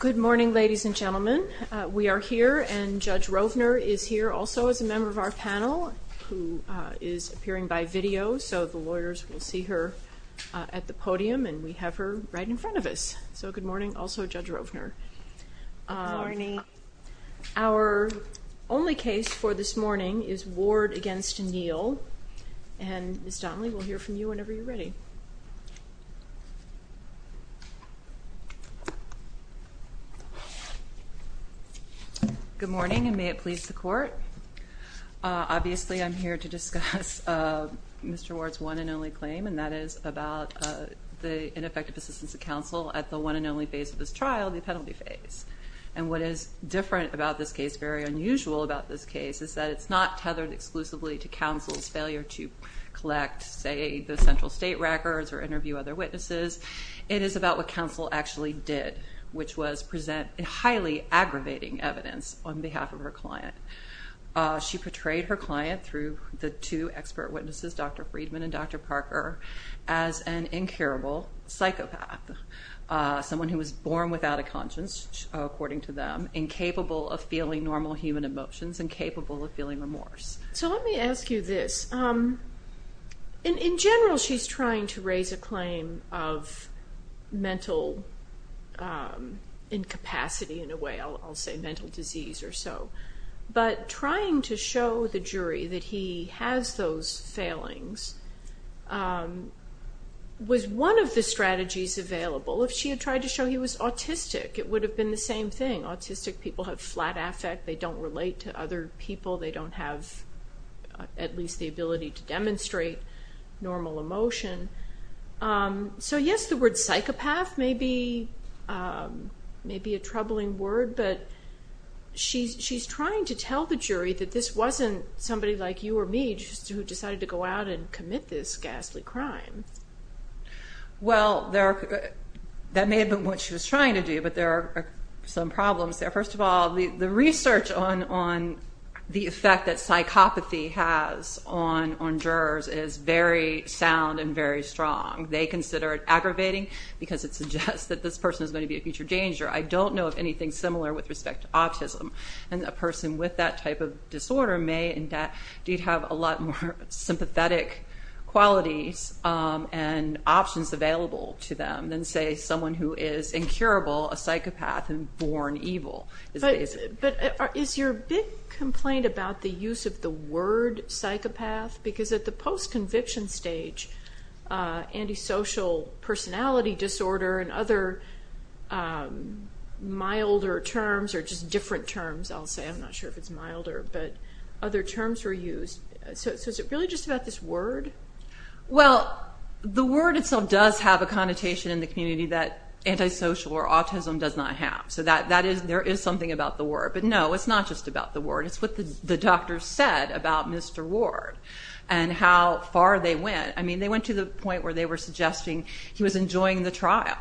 Good morning ladies and gentlemen we are here and Judge Rovner is here also as a member of our panel who is appearing by video so the lawyers will see her at the podium and we have her right in front of us so good morning also Judge Rovner Our only case for this morning is Ward against Neal and Miss Donnelly we'll hear from you whenever you're ready Good morning and may it please the court obviously I'm here to discuss Mr. Ward's one and only claim and that is about the ineffective assistance of counsel at the one and only phase of this trial the penalty phase and what is different about this case very unusual about this case is that it's not tethered exclusively to counsel's failure to collect say the central state records or present highly aggravating evidence on behalf of her client she portrayed her client through the two expert witnesses Dr. Friedman and Dr. Parker as an incurable psychopath someone who was born without a conscience according to them incapable of feeling normal human emotions incapable of feeling remorse so let me ask you this in general she's trying to raise a claim of mental incapacity in a way I'll say mental disease or so but trying to show the jury that he has those failings was one of the strategies available if she had tried to show he was autistic it would have been the same thing autistic people have flat affect they don't relate to other people they don't have at least the ability to demonstrate normal emotion so yes the word psychopath may be maybe a troubling word but she's she's trying to tell the jury that this wasn't somebody like you or me just who decided to go out and commit this ghastly crime well there that may have been what she was trying to do but there are some problems there first of all the research on on the effect that psychopathy has on on jurors is very sound and very strong they consider it aggravating because it suggests that this person is going to be a future danger I don't know of anything similar with respect to autism and a person with that type of disorder may indeed have a lot more sympathetic qualities and options available to them than say someone who is incurable a psychopath and born evil but is your big complaint about the use of the word psychopath because at the post conviction stage antisocial personality disorder and other milder terms are just different terms I'll say I'm not sure if it's milder but other terms were used so is it really just about this word well the word itself does have a connotation in the community that antisocial or autism does not have so that that is there is something about the word but no it's not just about the word it's what the doctor said about Mr. Ward and how far they went I mean they went to the point where they were suggesting he was enjoying the trial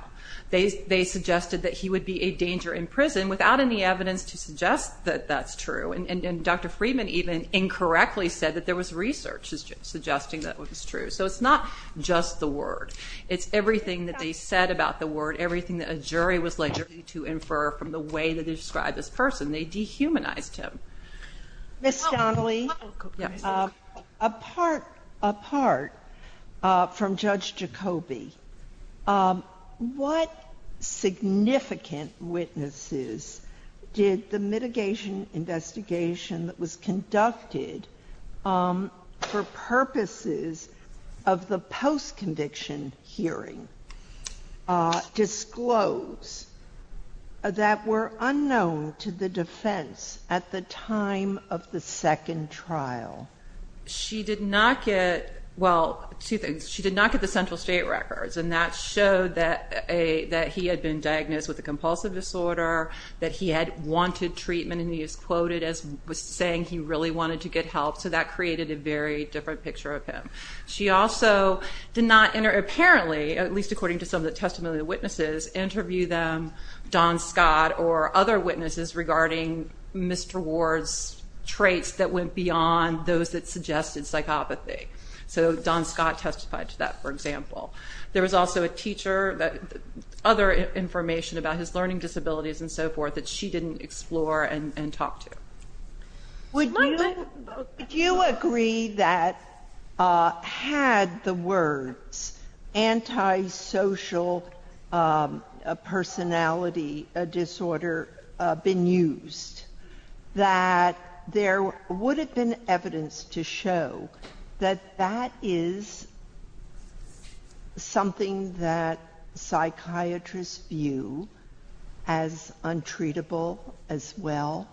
they they suggested that he would be a danger in prison without any evidence to suggest that that's true and Dr. Friedman even incorrectly said that there was research suggesting that what is true so it's not just the word it's everything that they said about the word everything that a jury was later to infer from the way that they described this person they dehumanized him miss Donnelly apart apart from judge Jacoby what significant witnesses did the mitigation investigation that was conducted for purposes of the post conviction hearing disclose that were unknown to the defense at the time of the second trial she did not get well two things she did not get the central state records and that showed that a that he had been diagnosed with a compulsive disorder that he had wanted treatment and he is quoted as saying he really wanted to get help so that created a very different picture of him she also did not enter apparently at least according to some of the testimony witnesses interview them Don Scott or other witnesses regarding Mr. Ward's traits that went beyond those that suggested psychopathy so Don Scott testified to that for example there was also a teacher that other information about his learning disabilities and so forth that she didn't explore and and talk to would you agree that had the words anti-social personality disorder been used that there would have been evidence to show that that is something that you as untreatable as well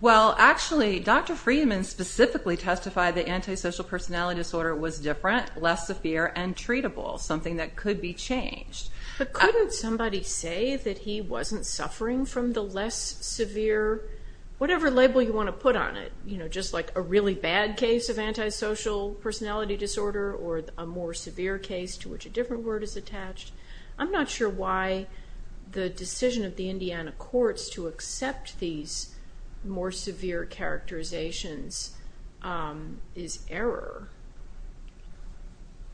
well actually dr. Freeman specifically testify the anti-social personality disorder was different less severe and treatable something that could be changed but couldn't somebody say that he wasn't suffering from the less severe whatever label you want to put on it you know just like a really bad case of anti-social personality disorder or a more severe case to which a different word is attached I'm not sure why the decision of the Indiana courts to accept these more severe characterizations is error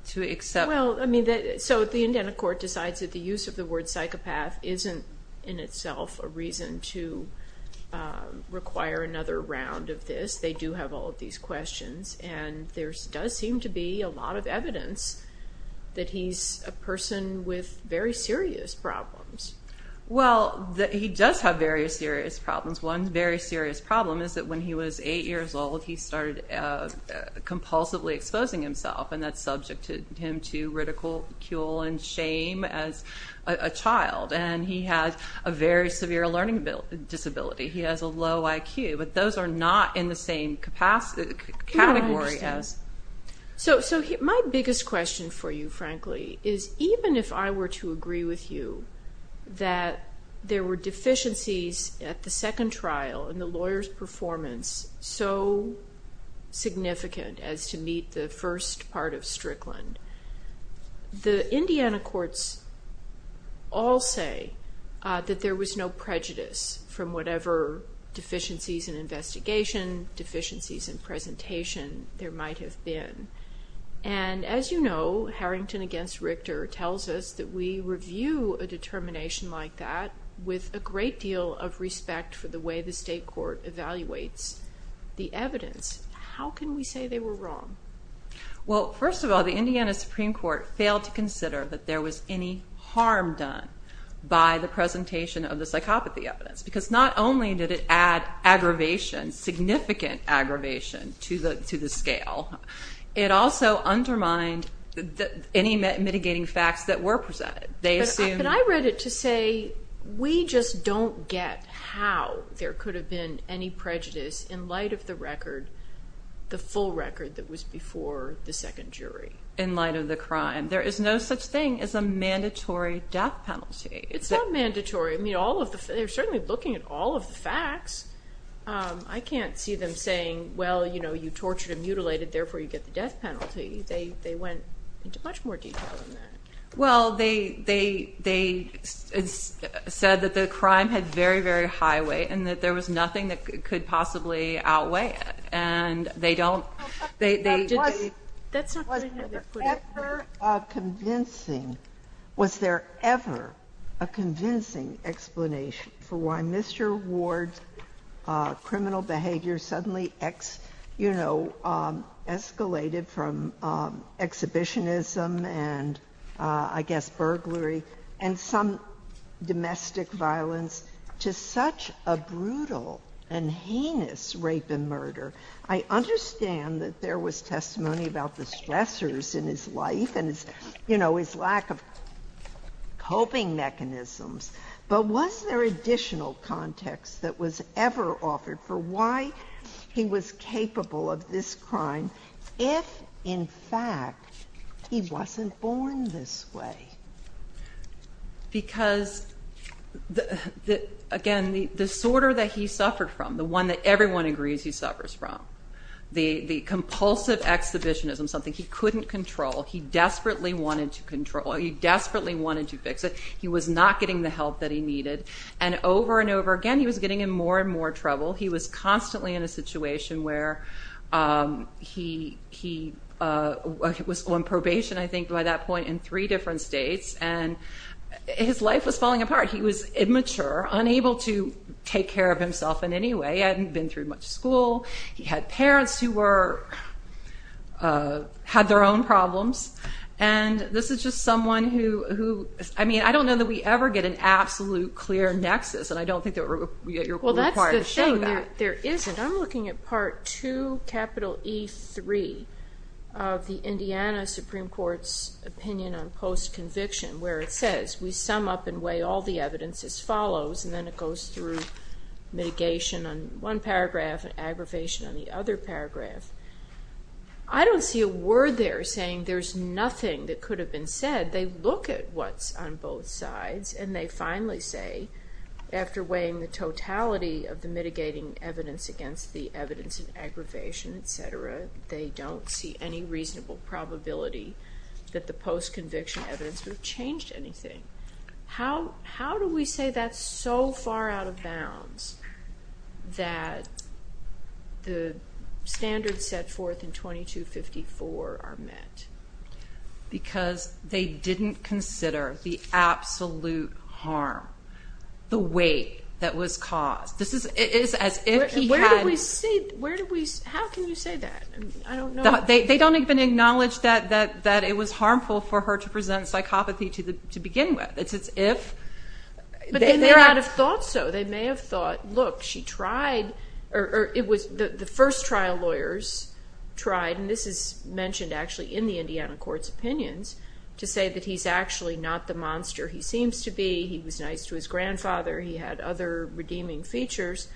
to accept well I mean that so the Indiana court decides that the use of the word psychopath isn't in itself a reason to require another round of this they do have all of these questions and there's does seem to be a lot of that he's a person with very serious problems well that he does have very serious problems one very serious problem is that when he was eight years old he started compulsively exposing himself and that's subject to him to ridicule and shame as a child and he had a very severe learning disability he has a low IQ but those are not in the same capacity category as so so my biggest question for you frankly is even if I were to agree with you that there were deficiencies at the second trial and the lawyers performance so significant as to meet the first part of Strickland the Indiana courts all say that there was no prejudice from whatever deficiencies in investigation deficiencies in and as you know Harrington against Richter tells us that we review a determination like that with a great deal of respect for the way the state court evaluates the evidence how can we say they were wrong well first of all the Indiana Supreme Court failed to consider that there was any harm done by the presentation of the psychopathy evidence because not only did it add aggravation significant aggravation to the to the scale it also undermined any mitigating facts that were presented they assume and I read it to say we just don't get how there could have been any prejudice in light of the record the full record that was before the second jury in light of the crime there is no such thing as a mandatory death penalty it's not mandatory I mean they're certainly looking at all of the facts I can't see them saying well you know you tortured and mutilated therefore you get the death penalty they they went into much more detail in that well they they they said that the crime had very very high weight and that there was nothing that could possibly outweigh it and they don't they that's not convincing was there ever a convincing explanation for why mr. Ward's criminal behavior suddenly X you know escalated from exhibitionism and I guess burglary and some domestic violence to such a brutal and heinous rape and murder I understand that there was testimony about the stressors in his life and it's you know his lack of coping mechanisms but was there additional context that was ever offered for why he was capable of this crime if in fact he wasn't born this way because the again the disorder that he suffered from the one that everyone agrees he suffers from the the compulsive exhibitionism something he couldn't control he desperately wanted to control he desperately wanted to fix it he was not getting the help that he needed and over and over again he was getting in more and more trouble he was constantly in a situation where he he was on probation I think by that point in three different states and his life was falling apart he was immature unable to take care of himself in any way I hadn't been through much school he parents who were had their own problems and this is just someone who who I mean I don't know that we ever get an absolute clear nexus and I don't think there were well that's the thing there isn't I'm looking at part 2 capital e3 of the Indiana Supreme Court's opinion on post conviction where it says we sum up and weigh all the evidence as follows and then it goes through mitigation on one paragraph and aggravation on the other paragraph I don't see a word they're saying there's nothing that could have been said they look at what's on both sides and they finally say after weighing the totality of the mitigating evidence against the evidence of aggravation etc they don't see any reasonable probability that the post conviction evidence would change anything how how do we say that's so far out of bounds that the standard set forth in 2254 are met because they didn't consider the absolute harm the weight that was caused this is it is as if he had we see where do we how can you say that they don't even acknowledge that that that it was harmful for her to begin with it's it's if they're out of thought so they may have thought look she tried or it was the first trial lawyers tried and this is mentioned actually in the Indiana courts opinions to say that he's actually not the monster he seems to be he was nice to his grandfather he had other redeeming features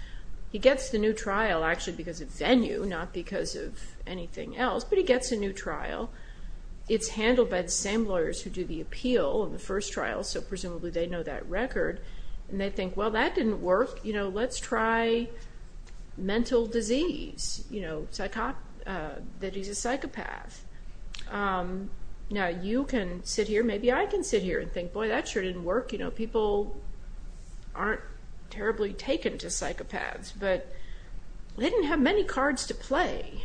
he gets the new trial actually because of venue not because of anything else but he gets a new trial it's handled by the same lawyers who do the appeal in the first trial so presumably they know that record and they think well that didn't work you know let's try mental disease you know psychop that he's a psychopath now you can sit here maybe I can sit here and think boy that sure didn't work you know people aren't terribly taken to psychopaths but they didn't have many cards to play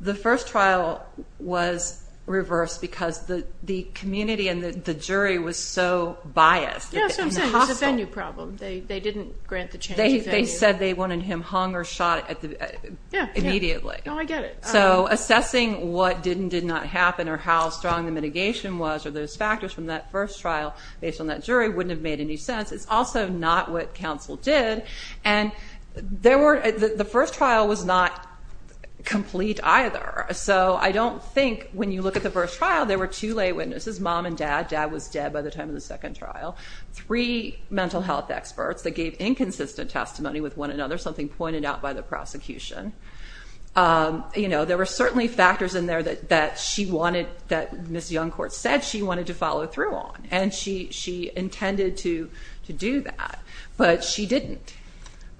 the first trial was reverse because the the community and the jury was so biased venue problem they they didn't grant the change they said they wanted him hung or shot at the yeah immediately no I get it so assessing what didn't did not happen or how strong the mitigation was or those factors from that first trial based on that jury wouldn't have made any sense it's also not what counsel did and there were the first trial was not complete either so I don't think when you look at the first trial there were two lay witnesses mom and dad dad was dead by the time of the second trial three mental health experts that gave inconsistent testimony with one another something pointed out by the prosecution you know there were certainly factors in there that that she wanted that miss young court said she wanted to follow through on and she she intended to to do that but she didn't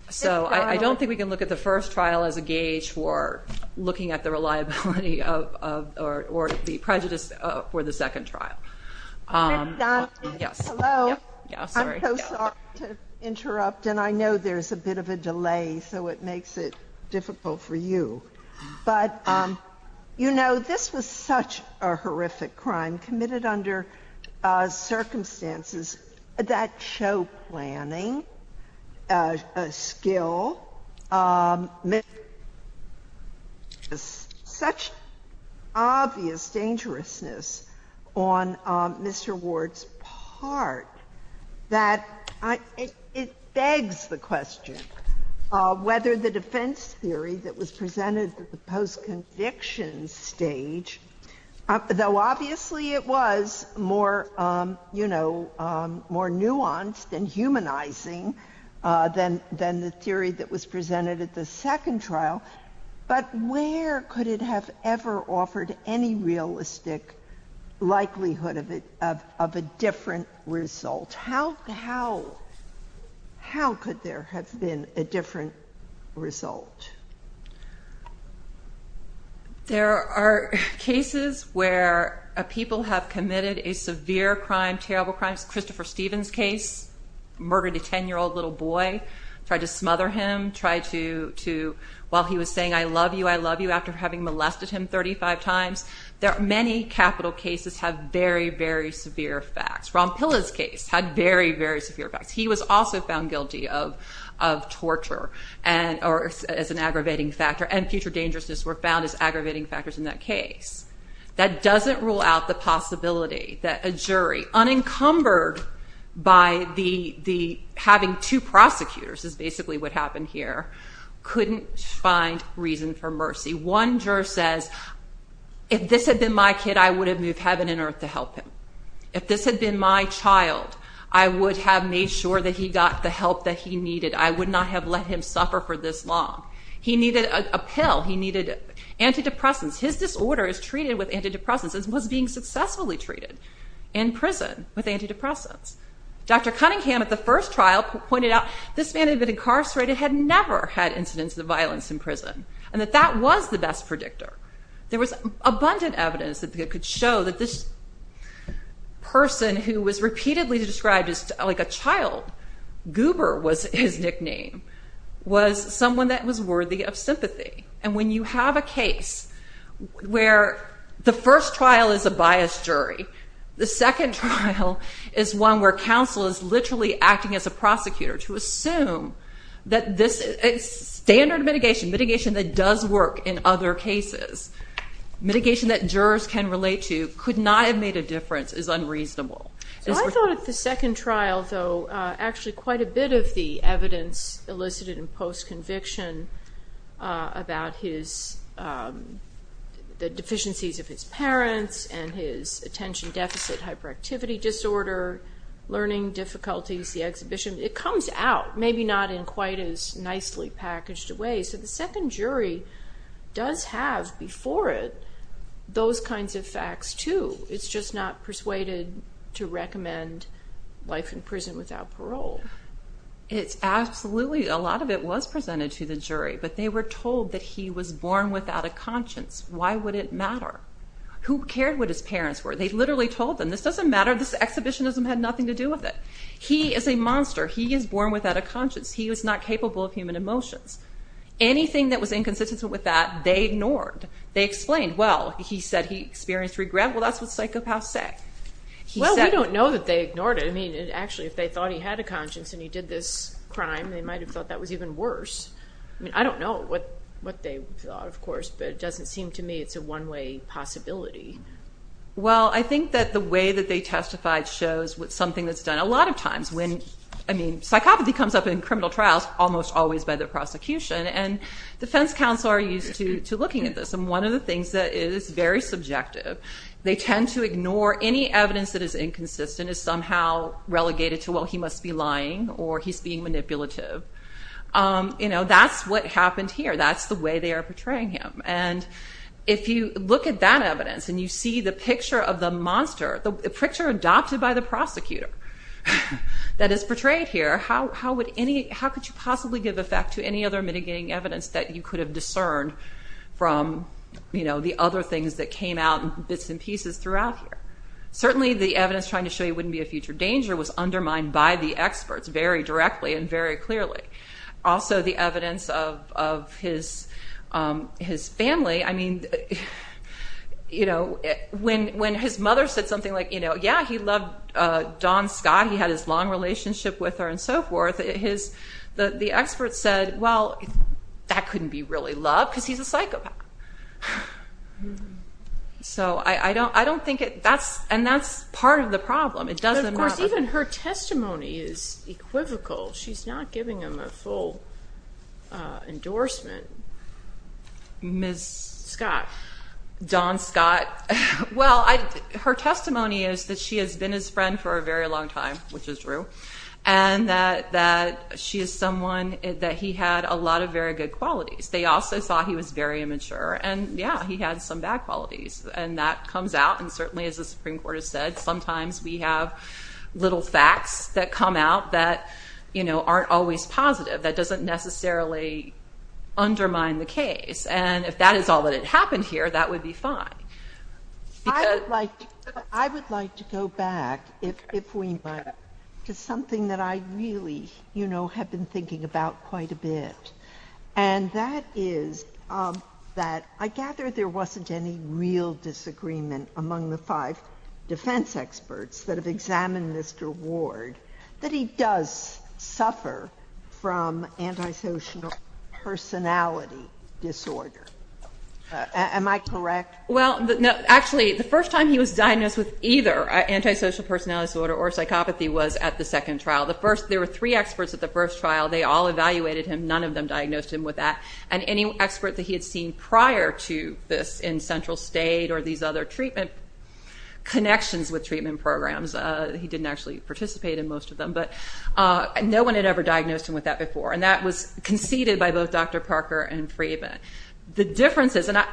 so I don't think we can look at the first trial as a gauge for looking at the reliability of or the prejudice for the second trial interrupt and I know there's a bit of a delay so it makes it difficult for you but you know this was such a horrific crime committed under circumstances that show planning a skill miss is such obvious dangerousness on mr. Ward's part that I it begs the question whether the defense theory that was presented at the nuanced and humanizing then then the theory that was presented at the second trial but where could it have ever offered any realistic likelihood of it of a different result how how how could there have been a different result there are cases where people have committed a severe crime terrible crimes Christopher Stevens case murdered a ten-year-old little boy try to smother him try to to while he was saying I love you I love you after having molested him thirty five times there are many capital cases have very very severe facts rompilla's case had very very severe facts he was also found guilty of of torture and or as an aggravating factor and future dangerousness were found as aggravating factors in that case that doesn't rule out the possibility that a jury unencumbered by the the having two prosecutors is basically what happened here couldn't find reason for mercy one juror says if this had been my kid I would have moved heaven and earth to help him if this had been my child I would have made sure that he got the help that he needed I would not have let him suffer for this long he needed a pill he needed antidepressants his disorder is treated with antidepressants and was being successfully treated in prison with antidepressants dr. Cunningham at the first trial pointed out this man had been incarcerated had never had incidents of violence in prison and that that was the best predictor there was abundant evidence that they could show that this person who was repeatedly described as like a child goober was his nickname was someone that was worthy of sympathy and when you have a case where the first trial is a biased jury the second is one where counsel is literally acting as a prosecutor to assume that this is standard mitigation mitigation that does work in other cases mitigation that jurors can relate to could not have made a difference is unreasonable the second trial though actually quite a bit of the evidence elicited in post conviction about his deficiencies of his parents and his attention deficit hyperactivity disorder learning difficulties the exhibition it comes out maybe not in quite as nicely packaged away so the second jury does have before it those kinds of facts to it's just not persuaded to recommend life in prison without parole it's absolutely a lot of it was presented to the jury but they were told that he was born without a conscience why would it matter who cared what his parents were they literally told them this doesn't matter this exhibitionism had nothing to do with it he is a monster he is born without a conscience he was not capable of human emotions anything that was inconsistent with that they ignored they explained well he said he experienced regret well that's what psychopaths say well we don't know that they ignored it I mean it actually if they thought he had a conscience and he did this crime they might have thought that was even worse I mean I don't know what what they thought of course but it doesn't seem to me it's a one-way possibility well I think that the way that they testified shows with something that's done a lot of times when I mean psychopathy comes up in criminal trials almost always by the prosecution and defense counsel are used to looking at this and one of the they tend to ignore any evidence that is inconsistent is somehow relegated to well he must be lying or he's being manipulative you know that's what happened here that's the way they are portraying him and if you look at that evidence and you see the picture of the monster the picture adopted by the prosecutor that is portrayed here how would any how could you possibly give effect to any other mitigating evidence that you could have discerned from you throughout here certainly the evidence trying to show you wouldn't be a future danger was undermined by the experts very directly and very clearly also the evidence of his his family I mean you know when when his mother said something like you know yeah he loved Don Scott he had his long relationship with her and so forth his the the experts said well that couldn't be really love because he's a psychopath so I I don't I don't think it that's and that's part of the problem it doesn't of course even her testimony is equivocal she's not giving him a full endorsement miss Scott Don Scott well I her testimony is that she has been his friend for a very long time which is true and that that she is someone that he had a lot of very good qualities they also thought he was very immature and yeah he had some bad qualities and that comes out and certainly as the Supreme Court has said sometimes we have little facts that come out that you know aren't always positive that doesn't necessarily undermine the case and if that is all that had happened here that would be fine I would like to go back if we might to something that I really you know have been thinking about quite a bit and that is that I gather there wasn't any real disagreement among the five defense experts that have examined mr. Ward that he does suffer from antisocial personality disorder am I correct well no actually the first time he was diagnosed with either antisocial personality disorder or psychopathy was at the second trial the first there were experts at the first trial they all evaluated him none of them diagnosed him with that and any expert that he had seen prior to this in central state or these other treatment connections with treatment programs he didn't actually participate in most of them but no one had ever diagnosed him with that before and that was conceded by both dr. Parker and free event the differences and I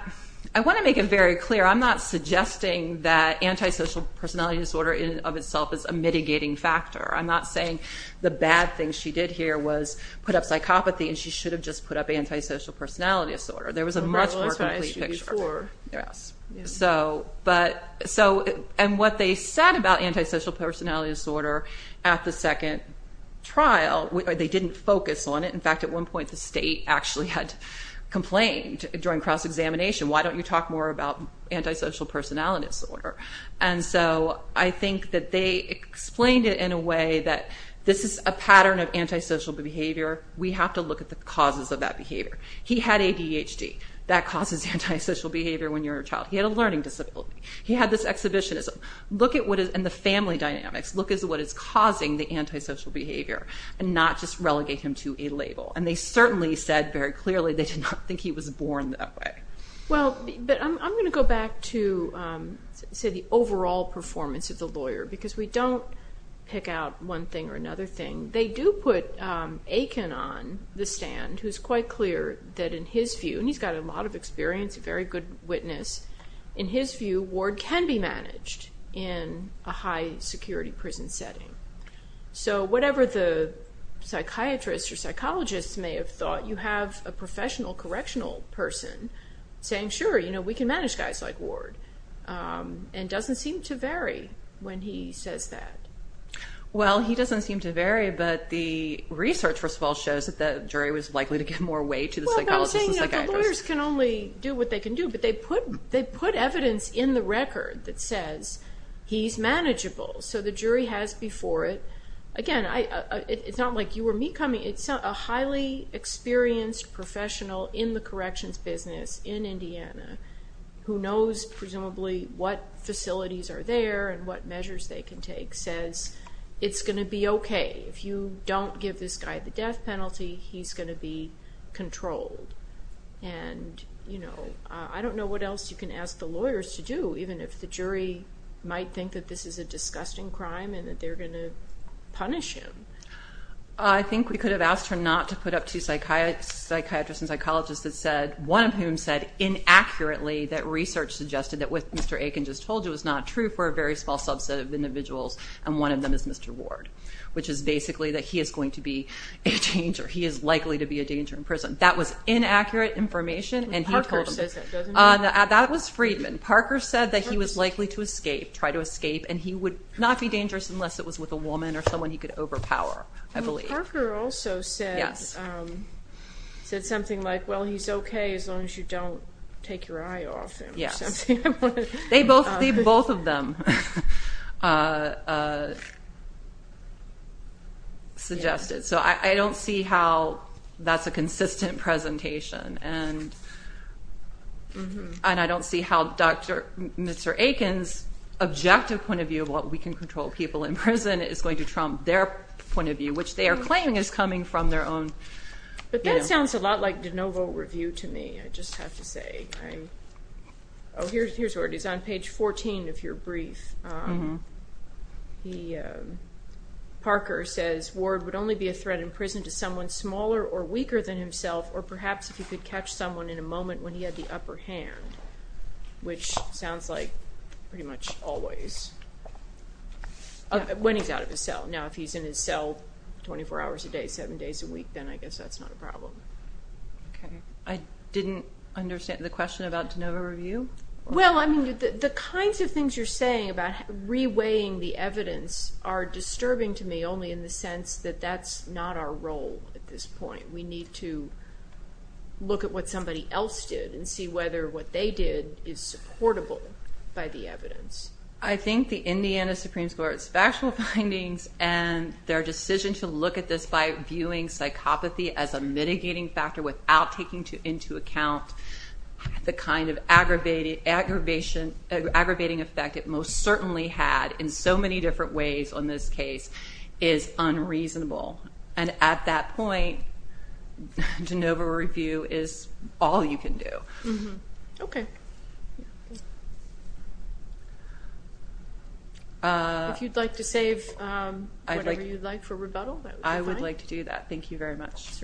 I want to make it very clear I'm not suggesting that antisocial personality disorder in of itself is a mitigating factor I'm not saying the bad thing she did here was put up psychopathy and she should have just put up antisocial personality disorder there was a much nicer picture yes so but so and what they said about antisocial personality disorder at the second trial they didn't focus on it in fact at one point the state actually had complained during cross-examination why don't you talk more about antisocial personality disorder and so I think that they explained it in a way that this is a pattern of antisocial behavior we have to look at the causes of that behavior he had ADHD that causes antisocial behavior when you're a child he had a learning disability he had this exhibitionism look at what is in the family dynamics look is what is causing the antisocial behavior and not just relegate him to a label and they certainly said very clearly they did not think he was born that way well but I'm gonna go back to say the overall performance of the lawyer because we don't pick out one thing or another thing they do put Aiken on the stand who's quite clear that in his view and he's got a lot of experience a very good witness in his view Ward can be managed in a high security prison setting so whatever the psychiatrist or psychologists may have you have a professional correctional person saying sure you know we can manage guys like Ward and doesn't seem to vary when he says that well he doesn't seem to vary but the research first of all shows that the jury was likely to give more weight to the psychologist can only do what they can do but they put they put evidence in the record that says he's manageable so the jury has before it again I it's not like you were me coming it's not a highly experienced professional in the corrections business in Indiana who knows presumably what facilities are there and what measures they can take says it's gonna be okay if you don't give this guy the death penalty he's gonna be controlled and you know I don't know what else you can ask the lawyers to do even if the jury might think that this is a disgusting crime and that punish him I think we could have asked her not to put up to psychiatry psychiatrists and psychologists that said one of whom said inaccurately that research suggested that with mr. Aiken just told you it's not true for a very small subset of individuals and one of them is mr. Ward which is basically that he is going to be a change or he is likely to be a danger in prison that was inaccurate information and that was Friedman Parker said that he was likely to escape try to escape and he would not be dangerous unless it was with a woman or someone he could overpower I believe her also said yes said something like well he's okay as long as you don't take your eye off yes they both leave both of them suggested so I don't see how that's a consistent presentation and and I don't see how dr. mr. Aiken's objective point of view of what we can control people in prison is going to trump their point of view which they are claiming is coming from their own but that sounds a lot like de novo review to me I just have to say oh here's here's where it is on page 14 of your brief he Parker says Ward would only be a threat in prison to someone smaller or weaker than himself or perhaps if you could catch someone in a moment when he had the upper hand which sounds like pretty much always when he's out of his cell now if he's in his cell 24 hours a day seven days a week then I guess that's not a problem I didn't understand the question about to know review well I mean the kinds of things you're saying about reweighing the evidence are disturbing to me only in the sense that that's not our role at this point we need to look at what somebody else did and see whether what they did is supportable by the evidence I think the Indiana Supreme Court special findings and their decision to look at this by viewing psychopathy as a mitigating factor without taking to into account the kind of aggravated aggravation aggravating effect it most certainly had in so many different ways on this case is unreasonable and at that point de novo review is all you can do okay if you'd like to save I like you like for rebuttal I would like to do that thank you very much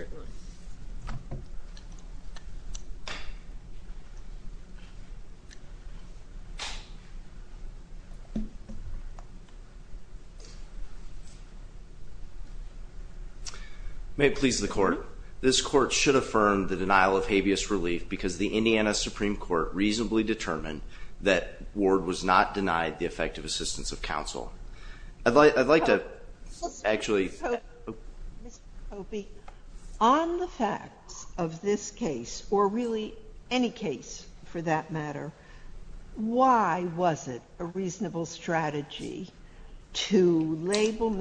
may it please the court this court should affirm the denial of habeas relief because the Indiana Supreme Court reasonably determined that ward was not denied the effective assistance of counsel I'd like I'd like to actually be on the facts of this case or really any case for that matter why was it a label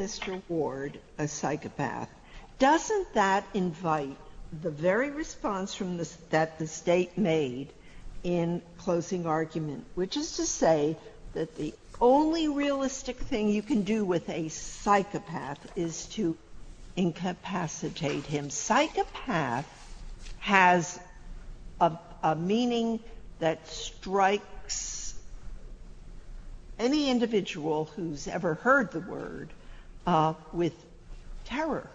mr. Ward a psychopath doesn't that invite the very response from this that the state made in closing argument which is to say that the only realistic thing you can do with a psychopath is to incapacitate him psychopath has a meaning that strikes any individual who's ever heard the word with terror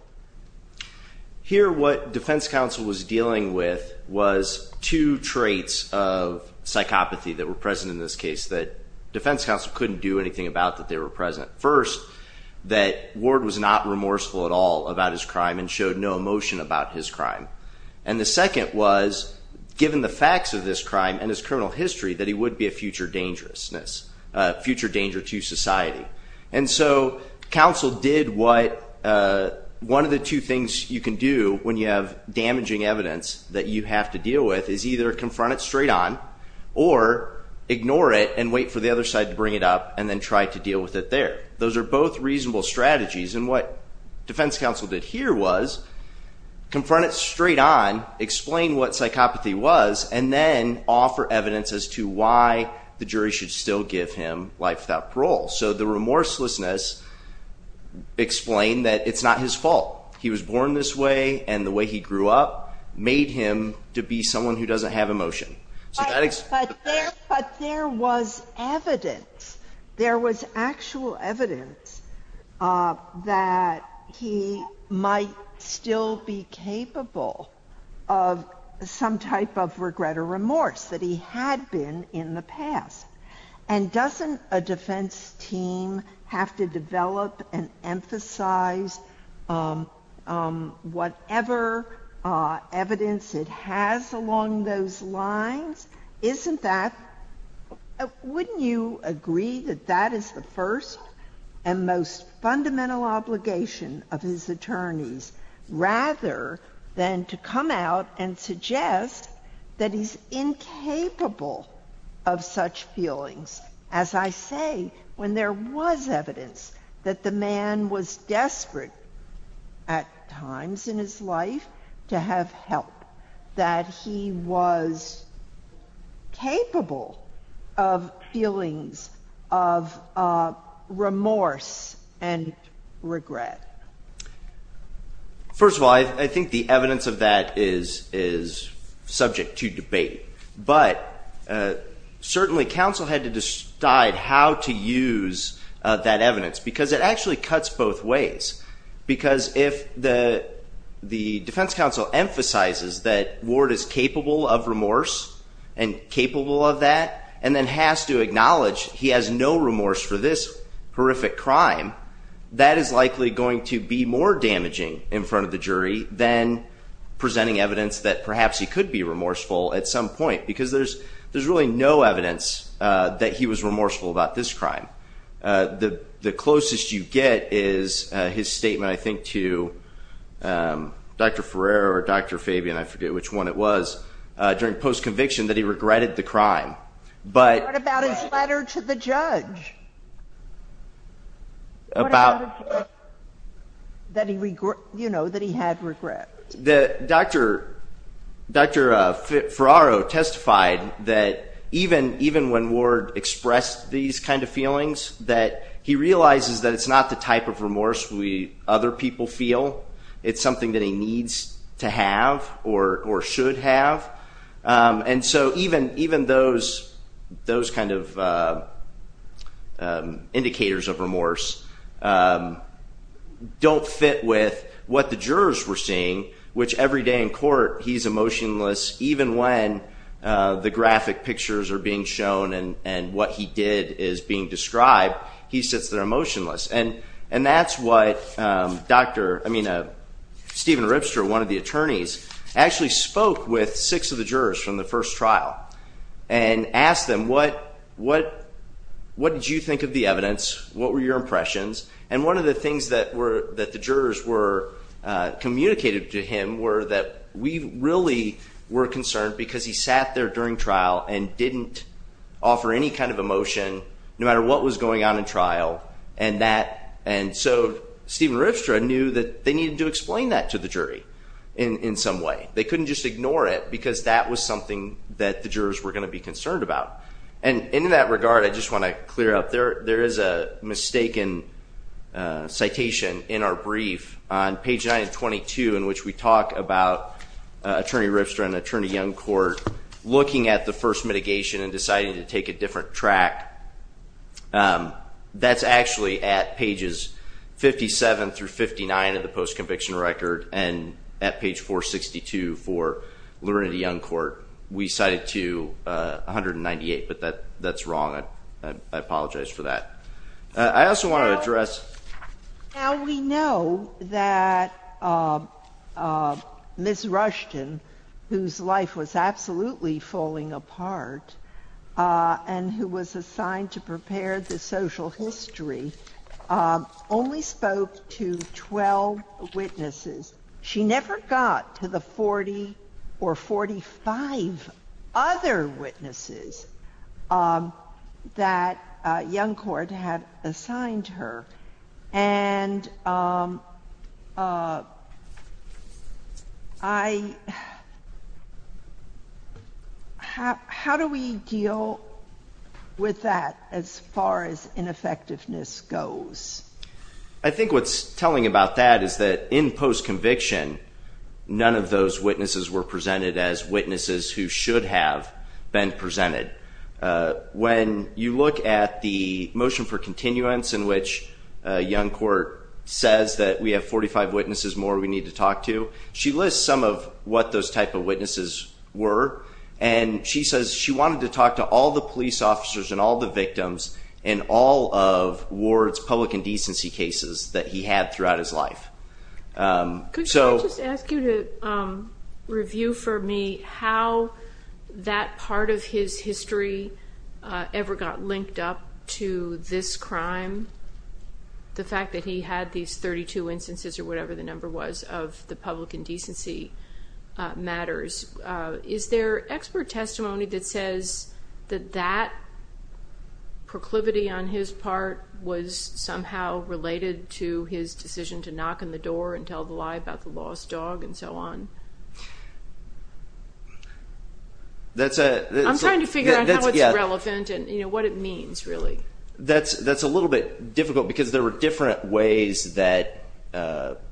here what defense counsel was dealing with was two traits of psychopathy that were present in this case that defense counsel couldn't do anything about that they were present first that ward was not remorseful at all about his crime and second was given the facts of this crime and his criminal history that he would be a future dangerousness future danger to society and so counsel did what one of the two things you can do when you have damaging evidence that you have to deal with is either confront it straight on or ignore it and wait for the other side to bring it up and then try to deal with it there those are both reasonable strategies and what defense counsel did here was confront it straight-on explain what psychopathy was and then offer evidence as to why the jury should still give him life without parole so the remorselessness explain that it's not his fault he was born this way and the way he grew up made him to be someone who doesn't have emotion but there was evidence there was actual evidence that he might still be capable of some type of regret or remorse that he had been in the past and doesn't a defense team have to develop and emphasize whatever evidence it has along those lines isn't that wouldn't you agree that that is the first and most fundamental obligation of his attorneys rather than to come out and suggest that he's incapable of such feelings as I say when there was evidence that the man was desperate at he was capable of feelings of remorse and regret first of all I think the evidence of that is is subject to debate but certainly counsel had to decide how to use that evidence because it actually cuts both ways because if the the defense counsel emphasizes that word is capable of remorse and capable of that and then has to acknowledge he has no remorse for this horrific crime that is likely going to be more damaging in front of the jury then presenting evidence that perhaps he could be remorseful at some point because there's there's really no evidence that he was remorseful about this crime the the and I forget which one it was during post conviction that he regretted the crime but about his letter to the judge about that he regret you know that he had regret that dr. dr. fit Ferraro testified that even even when Ward expressed these kind of feelings that he realizes that it's not the type of to have or or should have and so even even those those kind of indicators of remorse don't fit with what the jurors were saying which every day in court he's emotionless even when the graphic pictures are being shown and and what he did is being described he sits there emotionless and and that's what dr. I mean a Steven Ripster one of the attorneys actually spoke with six of the jurors from the first trial and asked them what what what did you think of the evidence what were your impressions and one of the things that were that the jurors were communicated to him were that we really were concerned because he sat there during trial and didn't offer any kind of emotion no and so Steven Ripster I knew that they needed to explain that to the jury in some way they couldn't just ignore it because that was something that the jurors were going to be concerned about and in that regard I just want to clear up there there is a mistaken citation in our brief on page 9 and 22 in which we talk about attorney Ripster and attorney young court looking at the first mitigation and deciding to take a different track that's actually at pages 57 through 59 of the post-conviction record and at page 462 for learned a young court we cited to 198 but that that's wrong I apologize for that I also want to address how we know that miss Rushton whose life was absolutely falling apart and who was assigned to prepare the social history only spoke to 12 witnesses she never got to the 40 or 45 other witnesses that young court had how do we deal with that as far as ineffectiveness goes I think what's telling about that is that in post-conviction none of those witnesses were presented as witnesses who should have been presented when you look at the motion for continuance in which young court says that we have 45 witnesses more we need to talk to she lists some of what those type of witnesses were and she says she wanted to talk to all the police officers and all the victims and all of wards public indecency cases that he had throughout his life so review for me how that part of his history ever got linked up to this crime the fact that he had these 32 instances or whatever the number was of the public indecency matters is there expert testimony that says that that proclivity on his part was somehow related to his decision to knock on the door and tell the lie about the lost dog and so on that's a I'm trying to figure out relevant and you know what it means really that's that's a little bit difficult because there are different ways that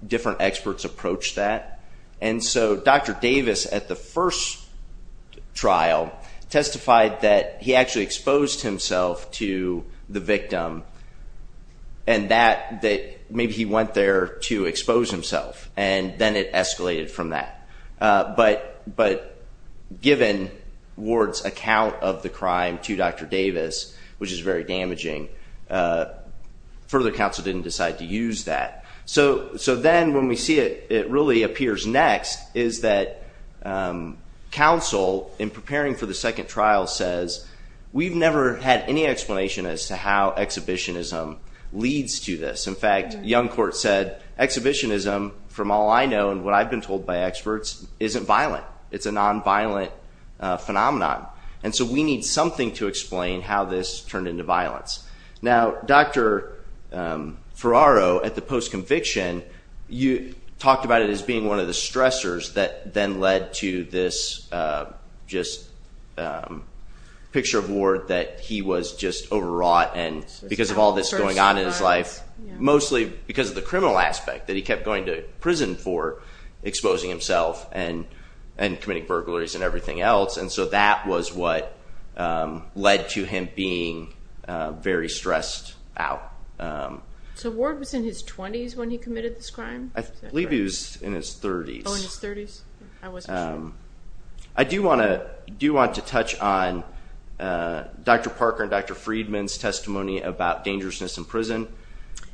different experts approach that and so dr. Davis at the first trial testified that he actually exposed himself to the victim and that that maybe he went there to expose himself and then it escalated from that but but given wards account of the crime to dr. Davis which is very to use that so so then when we see it it really appears next is that counsel in preparing for the second trial says we've never had any explanation as to how exhibitionism leads to this in fact young court said exhibitionism from all I know and what I've been told by experts isn't violent it's a nonviolent phenomenon and so we need something to explain how this turned into violence now dr. Ferraro at the post-conviction you talked about it as being one of the stressors that then led to this just picture of Ward that he was just overwrought and because of all this going on in his life mostly because of the criminal aspect that he kept going to prison for exposing himself and and committing burglaries and everything else and so that was what led to him being very stressed out. So Ward was in his 20s when he committed this crime? I believe he was in his 30s. I do want to do want to touch on dr. Parker and dr. Friedman's testimony about dangerousness in prison.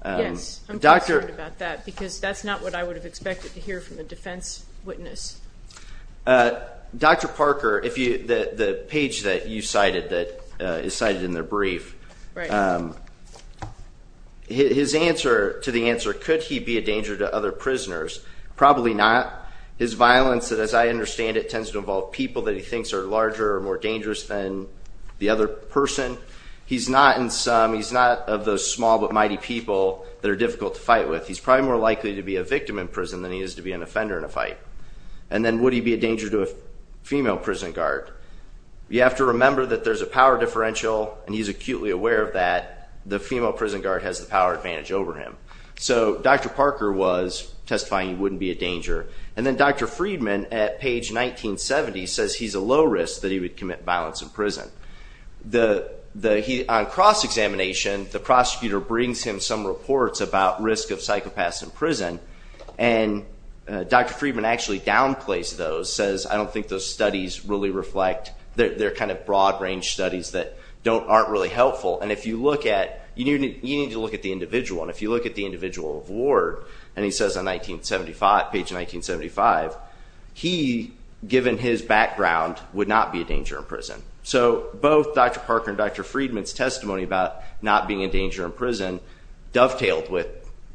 Yes, I'm concerned about that because that's not what I would have expected to hear from a defense witness. Dr. Parker if you the page that you cited that is cited in their brief his answer to the answer could he be a danger to other prisoners probably not his violence that as I understand it tends to involve people that he thinks are larger or more dangerous than the other person he's not in some he's not of those small but mighty people that are difficult to fight with he's probably more likely to be a victim in prison than he is to be an offender in a fight and then would he be a danger to a female prison guard you have to remember that there's a power differential and he's acutely aware of that the female prison guard has the power advantage over him so dr. Parker was testifying he wouldn't be a danger and then dr. Friedman at page 1970 says he's a low risk that he would commit violence in prison the the heat on cross-examination the prosecutor brings him some reports about risk of psychopaths in prison and dr. Friedman actually downplays those says I don't think those studies really reflect they're kind of broad-range studies that don't aren't really helpful and if you look at you need to look at the individual and if you look at the individual of Ward and he says on 1975 page 1975 he given his background would not be a danger in prison so both dr. Parker and dr. Friedman's testimony about not being a danger in prison dovetailed with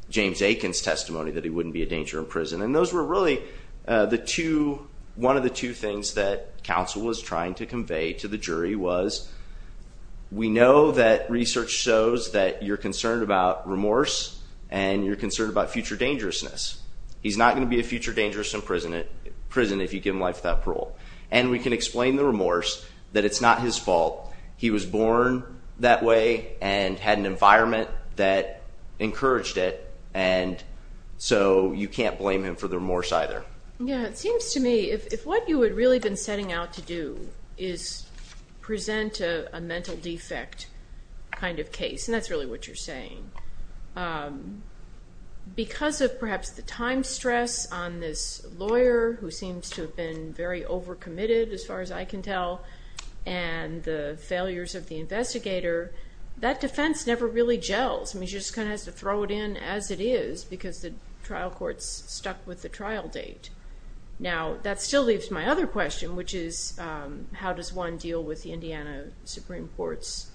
James Aikens testimony that he wouldn't be a danger in prison and those were really the two one of the two things that counsel was trying to convey to the jury was we know that research shows that you're concerned about remorse and you're concerned about future dangerousness he's not going to be a future dangerous in prison it prison if you give him life that parole and we can explain the remorse that it's not his fault he was born that way and had an environment that encouraged it and so you can't blame him for the remorse either yeah it seems to me if what you would really been setting out to do is present a mental defect kind of case and that's really what you're saying because of perhaps the time stress on this lawyer who seems to have been very over committed as far as I can tell and the failures of the investigator that defense never really gels and he just kind of has to throw it in as it is because the trial courts stuck with the trial date now that still leaves my other question which is how does one deal with the Indiana Supreme Court's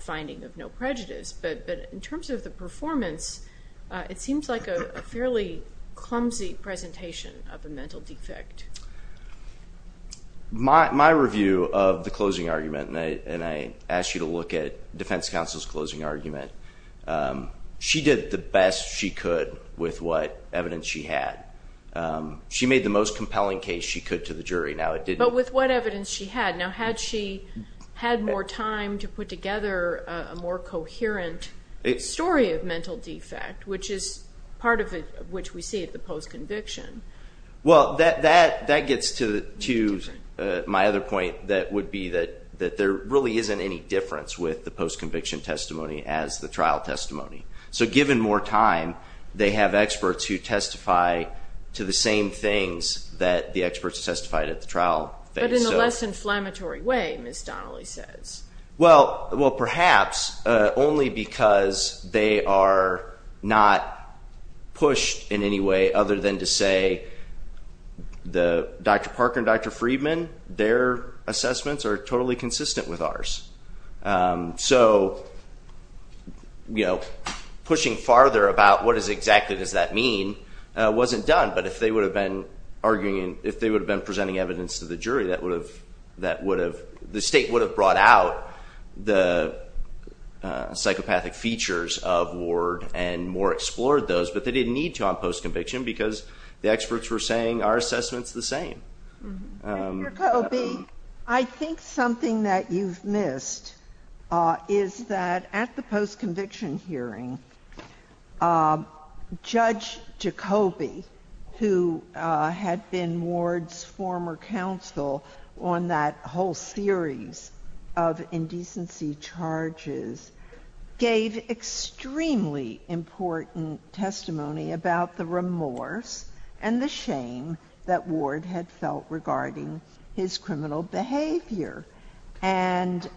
finding of no prejudice but in terms of the performance it seems like a fairly clumsy presentation of a mental defect my review of the closing argument and I asked you to look at defense counsel's closing argument she did the best she could with what evidence she had she made the most compelling case she could to the jury now it did but with what evidence she had now had she had more time to put together a more coherent story of mental defect which is part of it which we see well that that that gets to choose my other point that would be that that there really isn't any difference with the post conviction testimony as the trial testimony so given more time they have experts who testify to the same things that the experts testified at the trial less inflammatory way miss Donnelly well well perhaps only because they are not pushed in any way other than to say the dr. Parker and dr. Friedman their assessments are totally consistent with ours so you know pushing farther about what is exactly does that mean wasn't done but if they would have been arguing if they would have been presenting evidence to the jury that would have that would have the state would have brought out the psychopathic features of Ward and more explored those but they didn't need to on post conviction because the experts were saying our assessments the same I think something that you've missed is that at the post conviction hearing judge Jacoby who had been Ward's former counsel on that whole series of indecency charges gave extremely important testimony about the remorse and the shame that Ward had felt regarding his criminal behavior and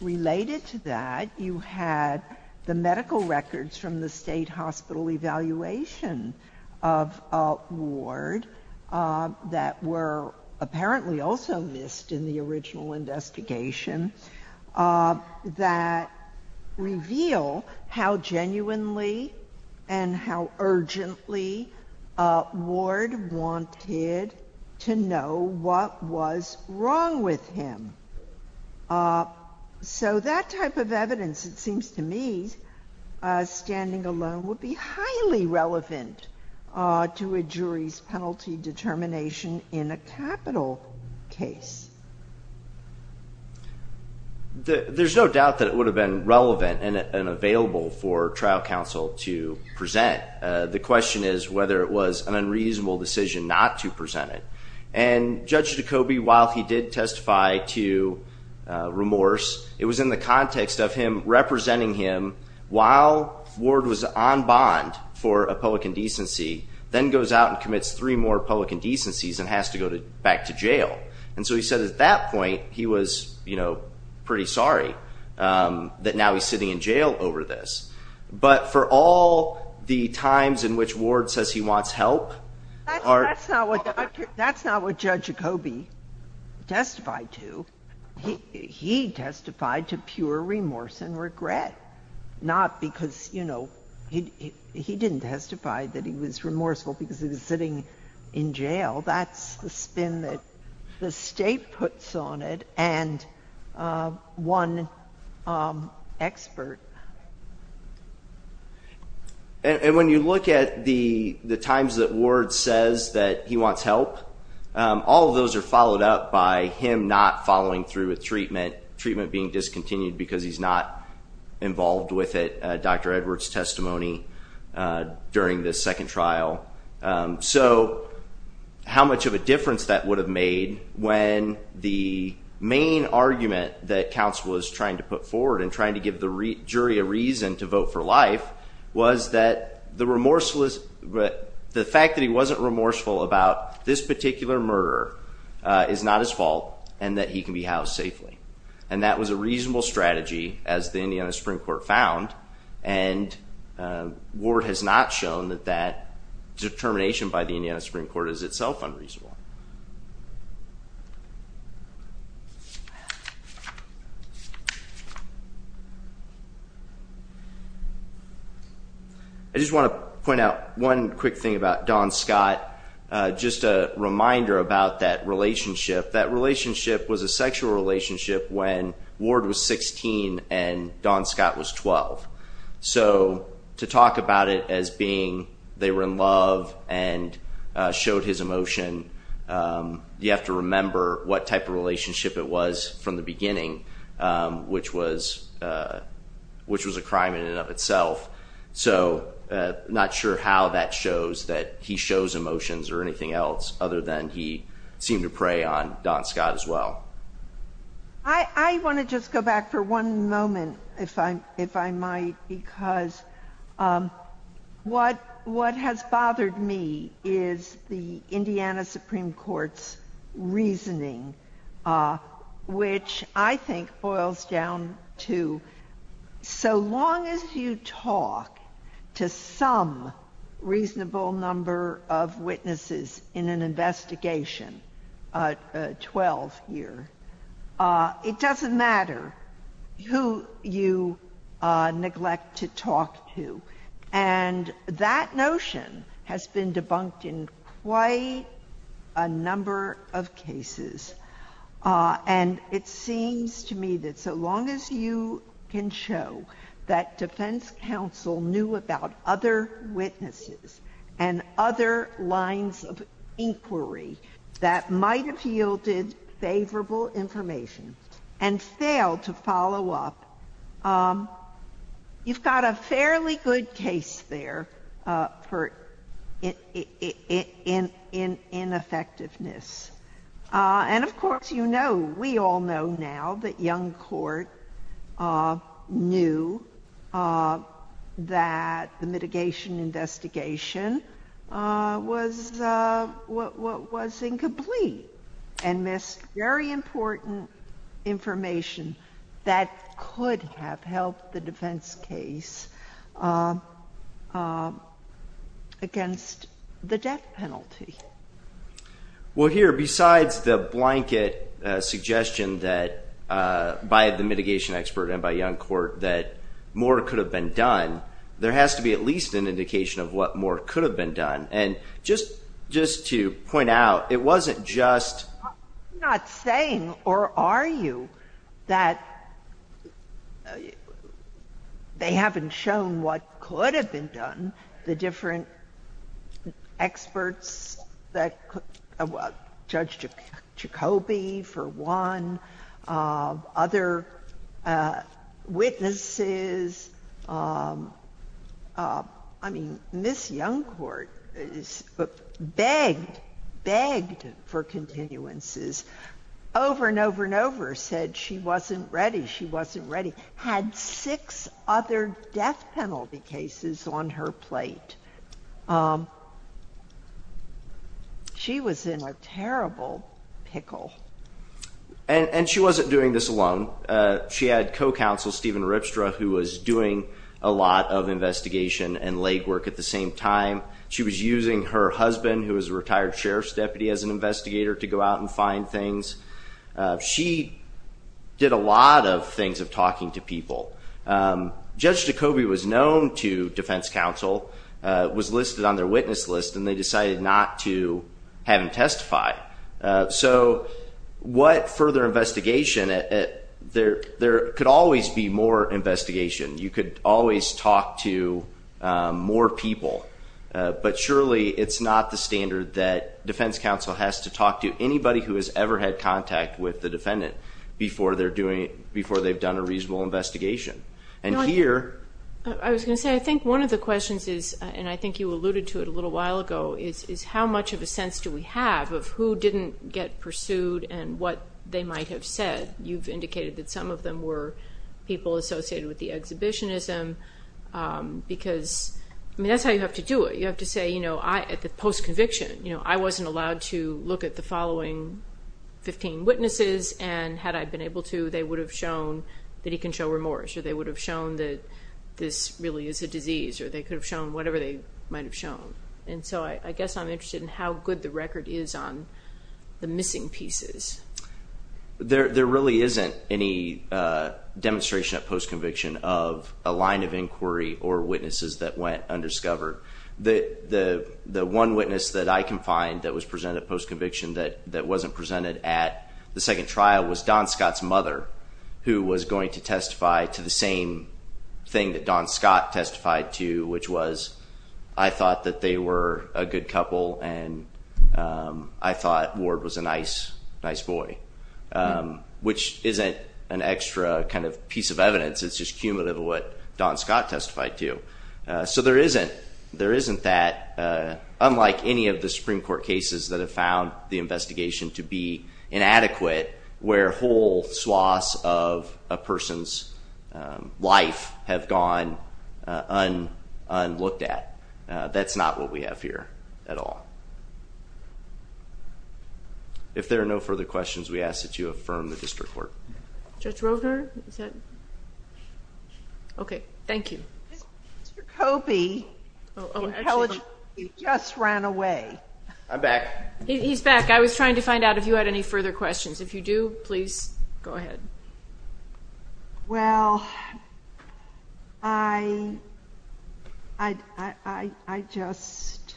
related to that you had the medical records from the state hospital evaluation of Ward that were apparently also missed in the original investigation that reveal how genuinely and how urgently Ward wanted to know what was wrong with him so that type of evidence it seems to me standing alone would be highly relevant to a jury's penalty determination in a capital case there's no doubt that it would have been relevant and available for trial counsel to present the question is whether it was an unreasonable decision not to present it and judge Jacoby while he did testify to remorse it was in the context of him representing him while Ward was on bond for a public indecency then goes out and commits three more public indecencies and has to go to back to jail and so he said at that point he was you know pretty sorry that now he's sitting in jail over this but for all the times in which Ward says he wants help that's not what judge Jacoby testified to he testified to pure remorse and regret not because you know he didn't testify that he was remorseful because he was sitting in jail that's the spin that the state puts on it and one expert and when you look at the the times that Ward says that he wants help all of those are followed up by him not following through with treatment treatment being discontinued because he's not involved with it dr. Edwards testimony during this second trial so how much of a difference that would have made when the main argument that council is trying to put forward and trying to give the jury a vote for life was that the remorseless but the fact that he wasn't remorseful about this particular murder is not his fault and that he can be housed safely and that was a reasonable strategy as the Indiana Supreme Court found and Ward has not shown that that determination by the Indiana Supreme Court is itself unreasonable I just want to point out one quick thing about Don Scott just a reminder about that relationship that relationship was a sexual relationship when Ward was 16 and Don Scott was 12 so to talk about it as being they were in love and showed his emotion you have to remember what type of relationship it was from the so not sure how that shows that he shows emotions or anything else other than he seemed to prey on Don Scott as well I want to just go back for one moment if I'm if I might because what what has bothered me is the Indiana Supreme Court has been debunked in quite a number of cases and it seems to me that so long as you can show that defense can't prove that it was a sexual relationship it doesn't matter who you talk to and it doesn't matter who you neglect to talk to and that notion has been debunked in quite a number of cases and it seems to me that so long as you can show that defense counsel knew about other witnesses and other lines of inquiry that might have yielded favorable information and failed to follow up you've got a fairly good case there for ineffectiveness and of course you know we all know now that young court knew that the mitigation investigation was what was incomplete and missed very much the debt penalty well here besides the blanket suggestion that by the mitigation expert and by young court that more could have been done there has to be at least an indication of what more could have been done and just just to point out it wasn't just not saying or are you that they haven't shown what could have been done the different experts that judge Jacoby for one other witnesses I mean Miss Young Court begged begged for continuances over and over and over said she wasn't ready she wasn't ready had six other death penalty cases on her plate she was in a terrible pickle and and she wasn't doing this alone she had co-counsel Stephen Ripstra who was doing a lot of investigation and legwork at the same time she was using her husband who is a retired sheriff's deputy as an investigator to go out and find things she did a lot of things of talking to people judge Jacoby was known to defense counsel was listed on their witness list and they decided not to have him testify so what further investigation it there there could always be more investigation you could always talk to more people but surely it's not the standard that defense counsel has to talk to anybody who has ever had contact with the defendant before they're doing it before they've done a reasonable investigation and here I was going to say I think one of the questions is and I think you alluded to it a little while ago is how much of a sense do we have of who didn't get pursued and what they might have said you've indicated that some of them were people associated with the exhibitionism because that's how you have to do it you have to say you know I at the post conviction you know I wasn't allowed to look at the following 15 witnesses and had I been able to they would have shown that he can show remorse or they would have shown that this really is a disease or they could have shown whatever they might have shown and so I guess I'm interested in how good the record is on the missing pieces there there really isn't any demonstration of post conviction of a line of inquiry or witnesses that went undiscovered that the the one witness that I can find that was presented post conviction that that wasn't presented at the second trial was Don Scott's mother who was going to testify to the same thing that Don Scott testified to which was I thought that they were a good couple and I thought Ward was a nice nice boy which isn't an extra kind of piece of evidence it's just cumulative what Don Scott testified to so there isn't there isn't that unlike any of the Supreme Court cases that have found the investigation to be inadequate where whole swaths of a person's life have gone on on looked at that's not what we have here at all if there are no further questions we ask that you affirm the district court judge Roger said okay thank you Kobe just ran away I'm back he's back I was trying to find out if you had any further questions if you do please go ahead well I I just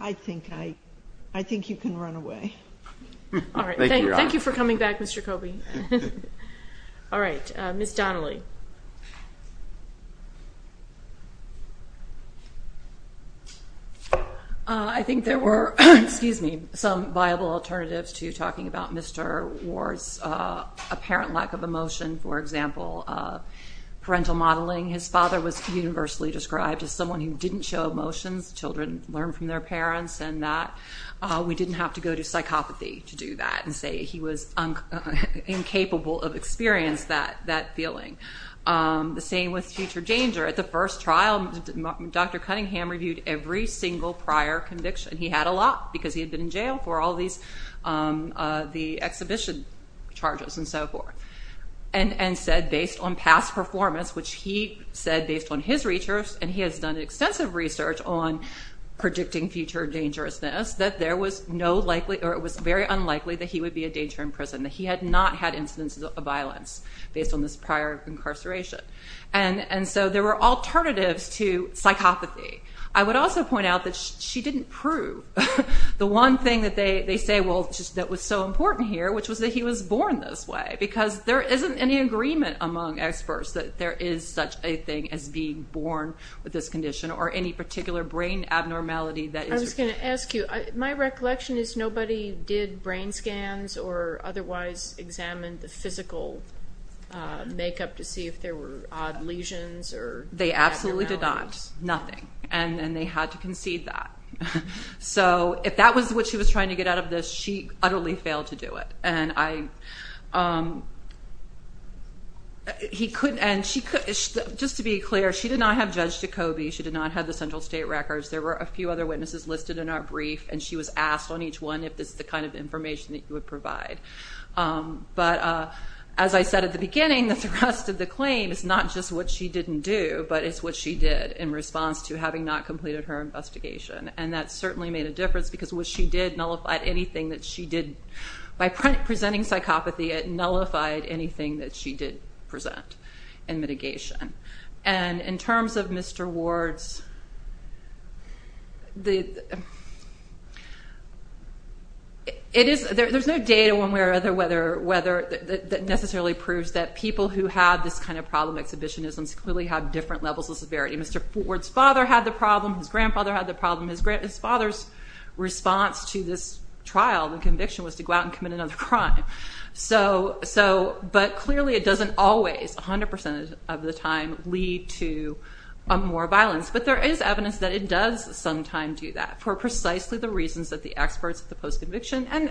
I think I I think you can run away thank you for coming back mr. Kobe all right miss Donnelly I think there were excuse me some viable alternatives to talking about mr. Ward's apparent lack of emotion for example parental modeling his father was universally described as someone who didn't show emotions children learn from their parents and that we didn't have to go to psychopathy to do that and say he was incapable of experience that that feeling the same with future danger at the first trial dr. Cunningham reviewed every single prior conviction he had a lot because he had been in jail for all these the exhibition charges and so forth and and said based on past performance which he said based on his research and he has done extensive research on predicting future dangerousness that there was no likely or it was very unlikely that he would be a danger in prison that he had not had incidents of violence based on this prior incarceration and and so there were alternatives to psychopathy I would also point out that she didn't prove the one thing that they say well that was so important here which was that he was born this way because there isn't any agreement among experts that there is such a thing as being born with this condition or any particular brain abnormality that is going to ask you my recollection is nobody did brain scans or otherwise examined the physical makeup to see if there were odd lesions or they absolutely did not nothing and then they had to concede that so if that was what she was trying to get out of this she utterly failed to do it and I he couldn't and she could just to be clear she did not have judged to Kobe she did not have the central state records there were a few other witnesses listed in our brief and she was asked on each one if this is the kind of information that you would provide but as I said at the beginning that the rest of the claim is not just what she didn't do but it's what she did in response to having not completed her investigation and that certainly made a difference because what she did nullified anything that she did by presenting psychopathy it nullified anything that she did present and mitigation and in terms of mr. Ward's the it is there's no data one way or other whether whether that necessarily proves that people who have this kind of problem exhibition isms clearly have different levels of severity mr. Ford's father had the problem his grandfather had the problem his great his father's response to this trial the conviction was to go out and commit another crime so so but clearly it doesn't always 100% of the time lead to more violence but there is evidence that it does sometime do that for precisely the reasons that the experts at the post conviction and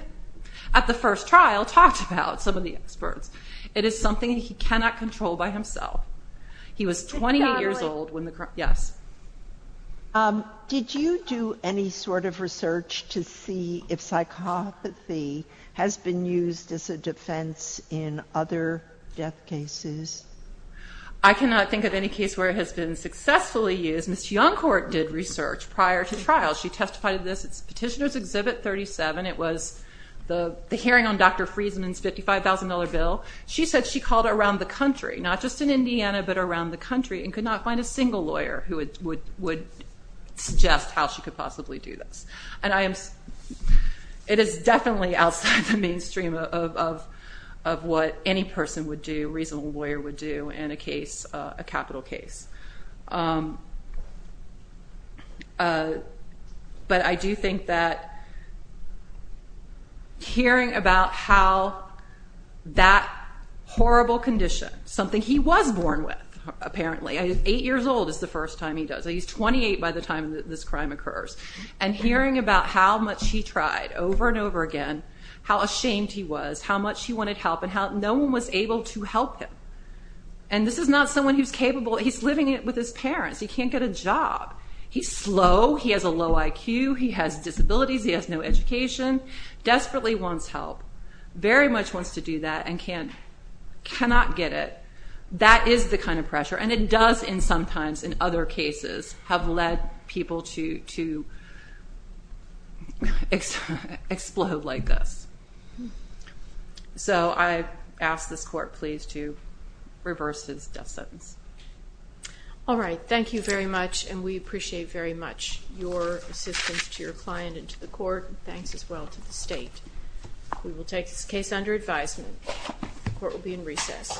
at the first trial talked about some of the experts it is something he cannot control by himself he was 28 years old when the yes did you do any sort of research to see if psychopathy has been used as a defense in other death cases I cannot think of any case where it has been successfully used miss young court did research prior to trial she testified to this it's petitioners exhibit 37 it was the hearing on dr. Friesman's $55,000 bill she said she called around the country not just in Indiana but around the country and could not find a single lawyer who would would would suggest how she could possibly do this and I am it is definitely outside the mainstream of of what any person would do reasonable lawyer would do in a case a capital case but I do think that hearing about how that horrible condition something he was born with apparently eight years old is the first time he does he's 28 by the time that this crime occurs and hearing about how much he tried over and over again how ashamed he was how much he wanted help and how no one was able to help him and this is not someone who's capable he's living it with his parents he can't get a job he's slow he has a low IQ he has disabilities he has no education desperately wants help very much wants to do that and can't cannot get it that is the kind of pressure and it does in cases have led people to to explode like this so I asked this court please to reverse his death sentence all right thank you very much and we appreciate very much your assistance to your client and to the court thanks as well to the state we will take this case under advisement the court will be in recess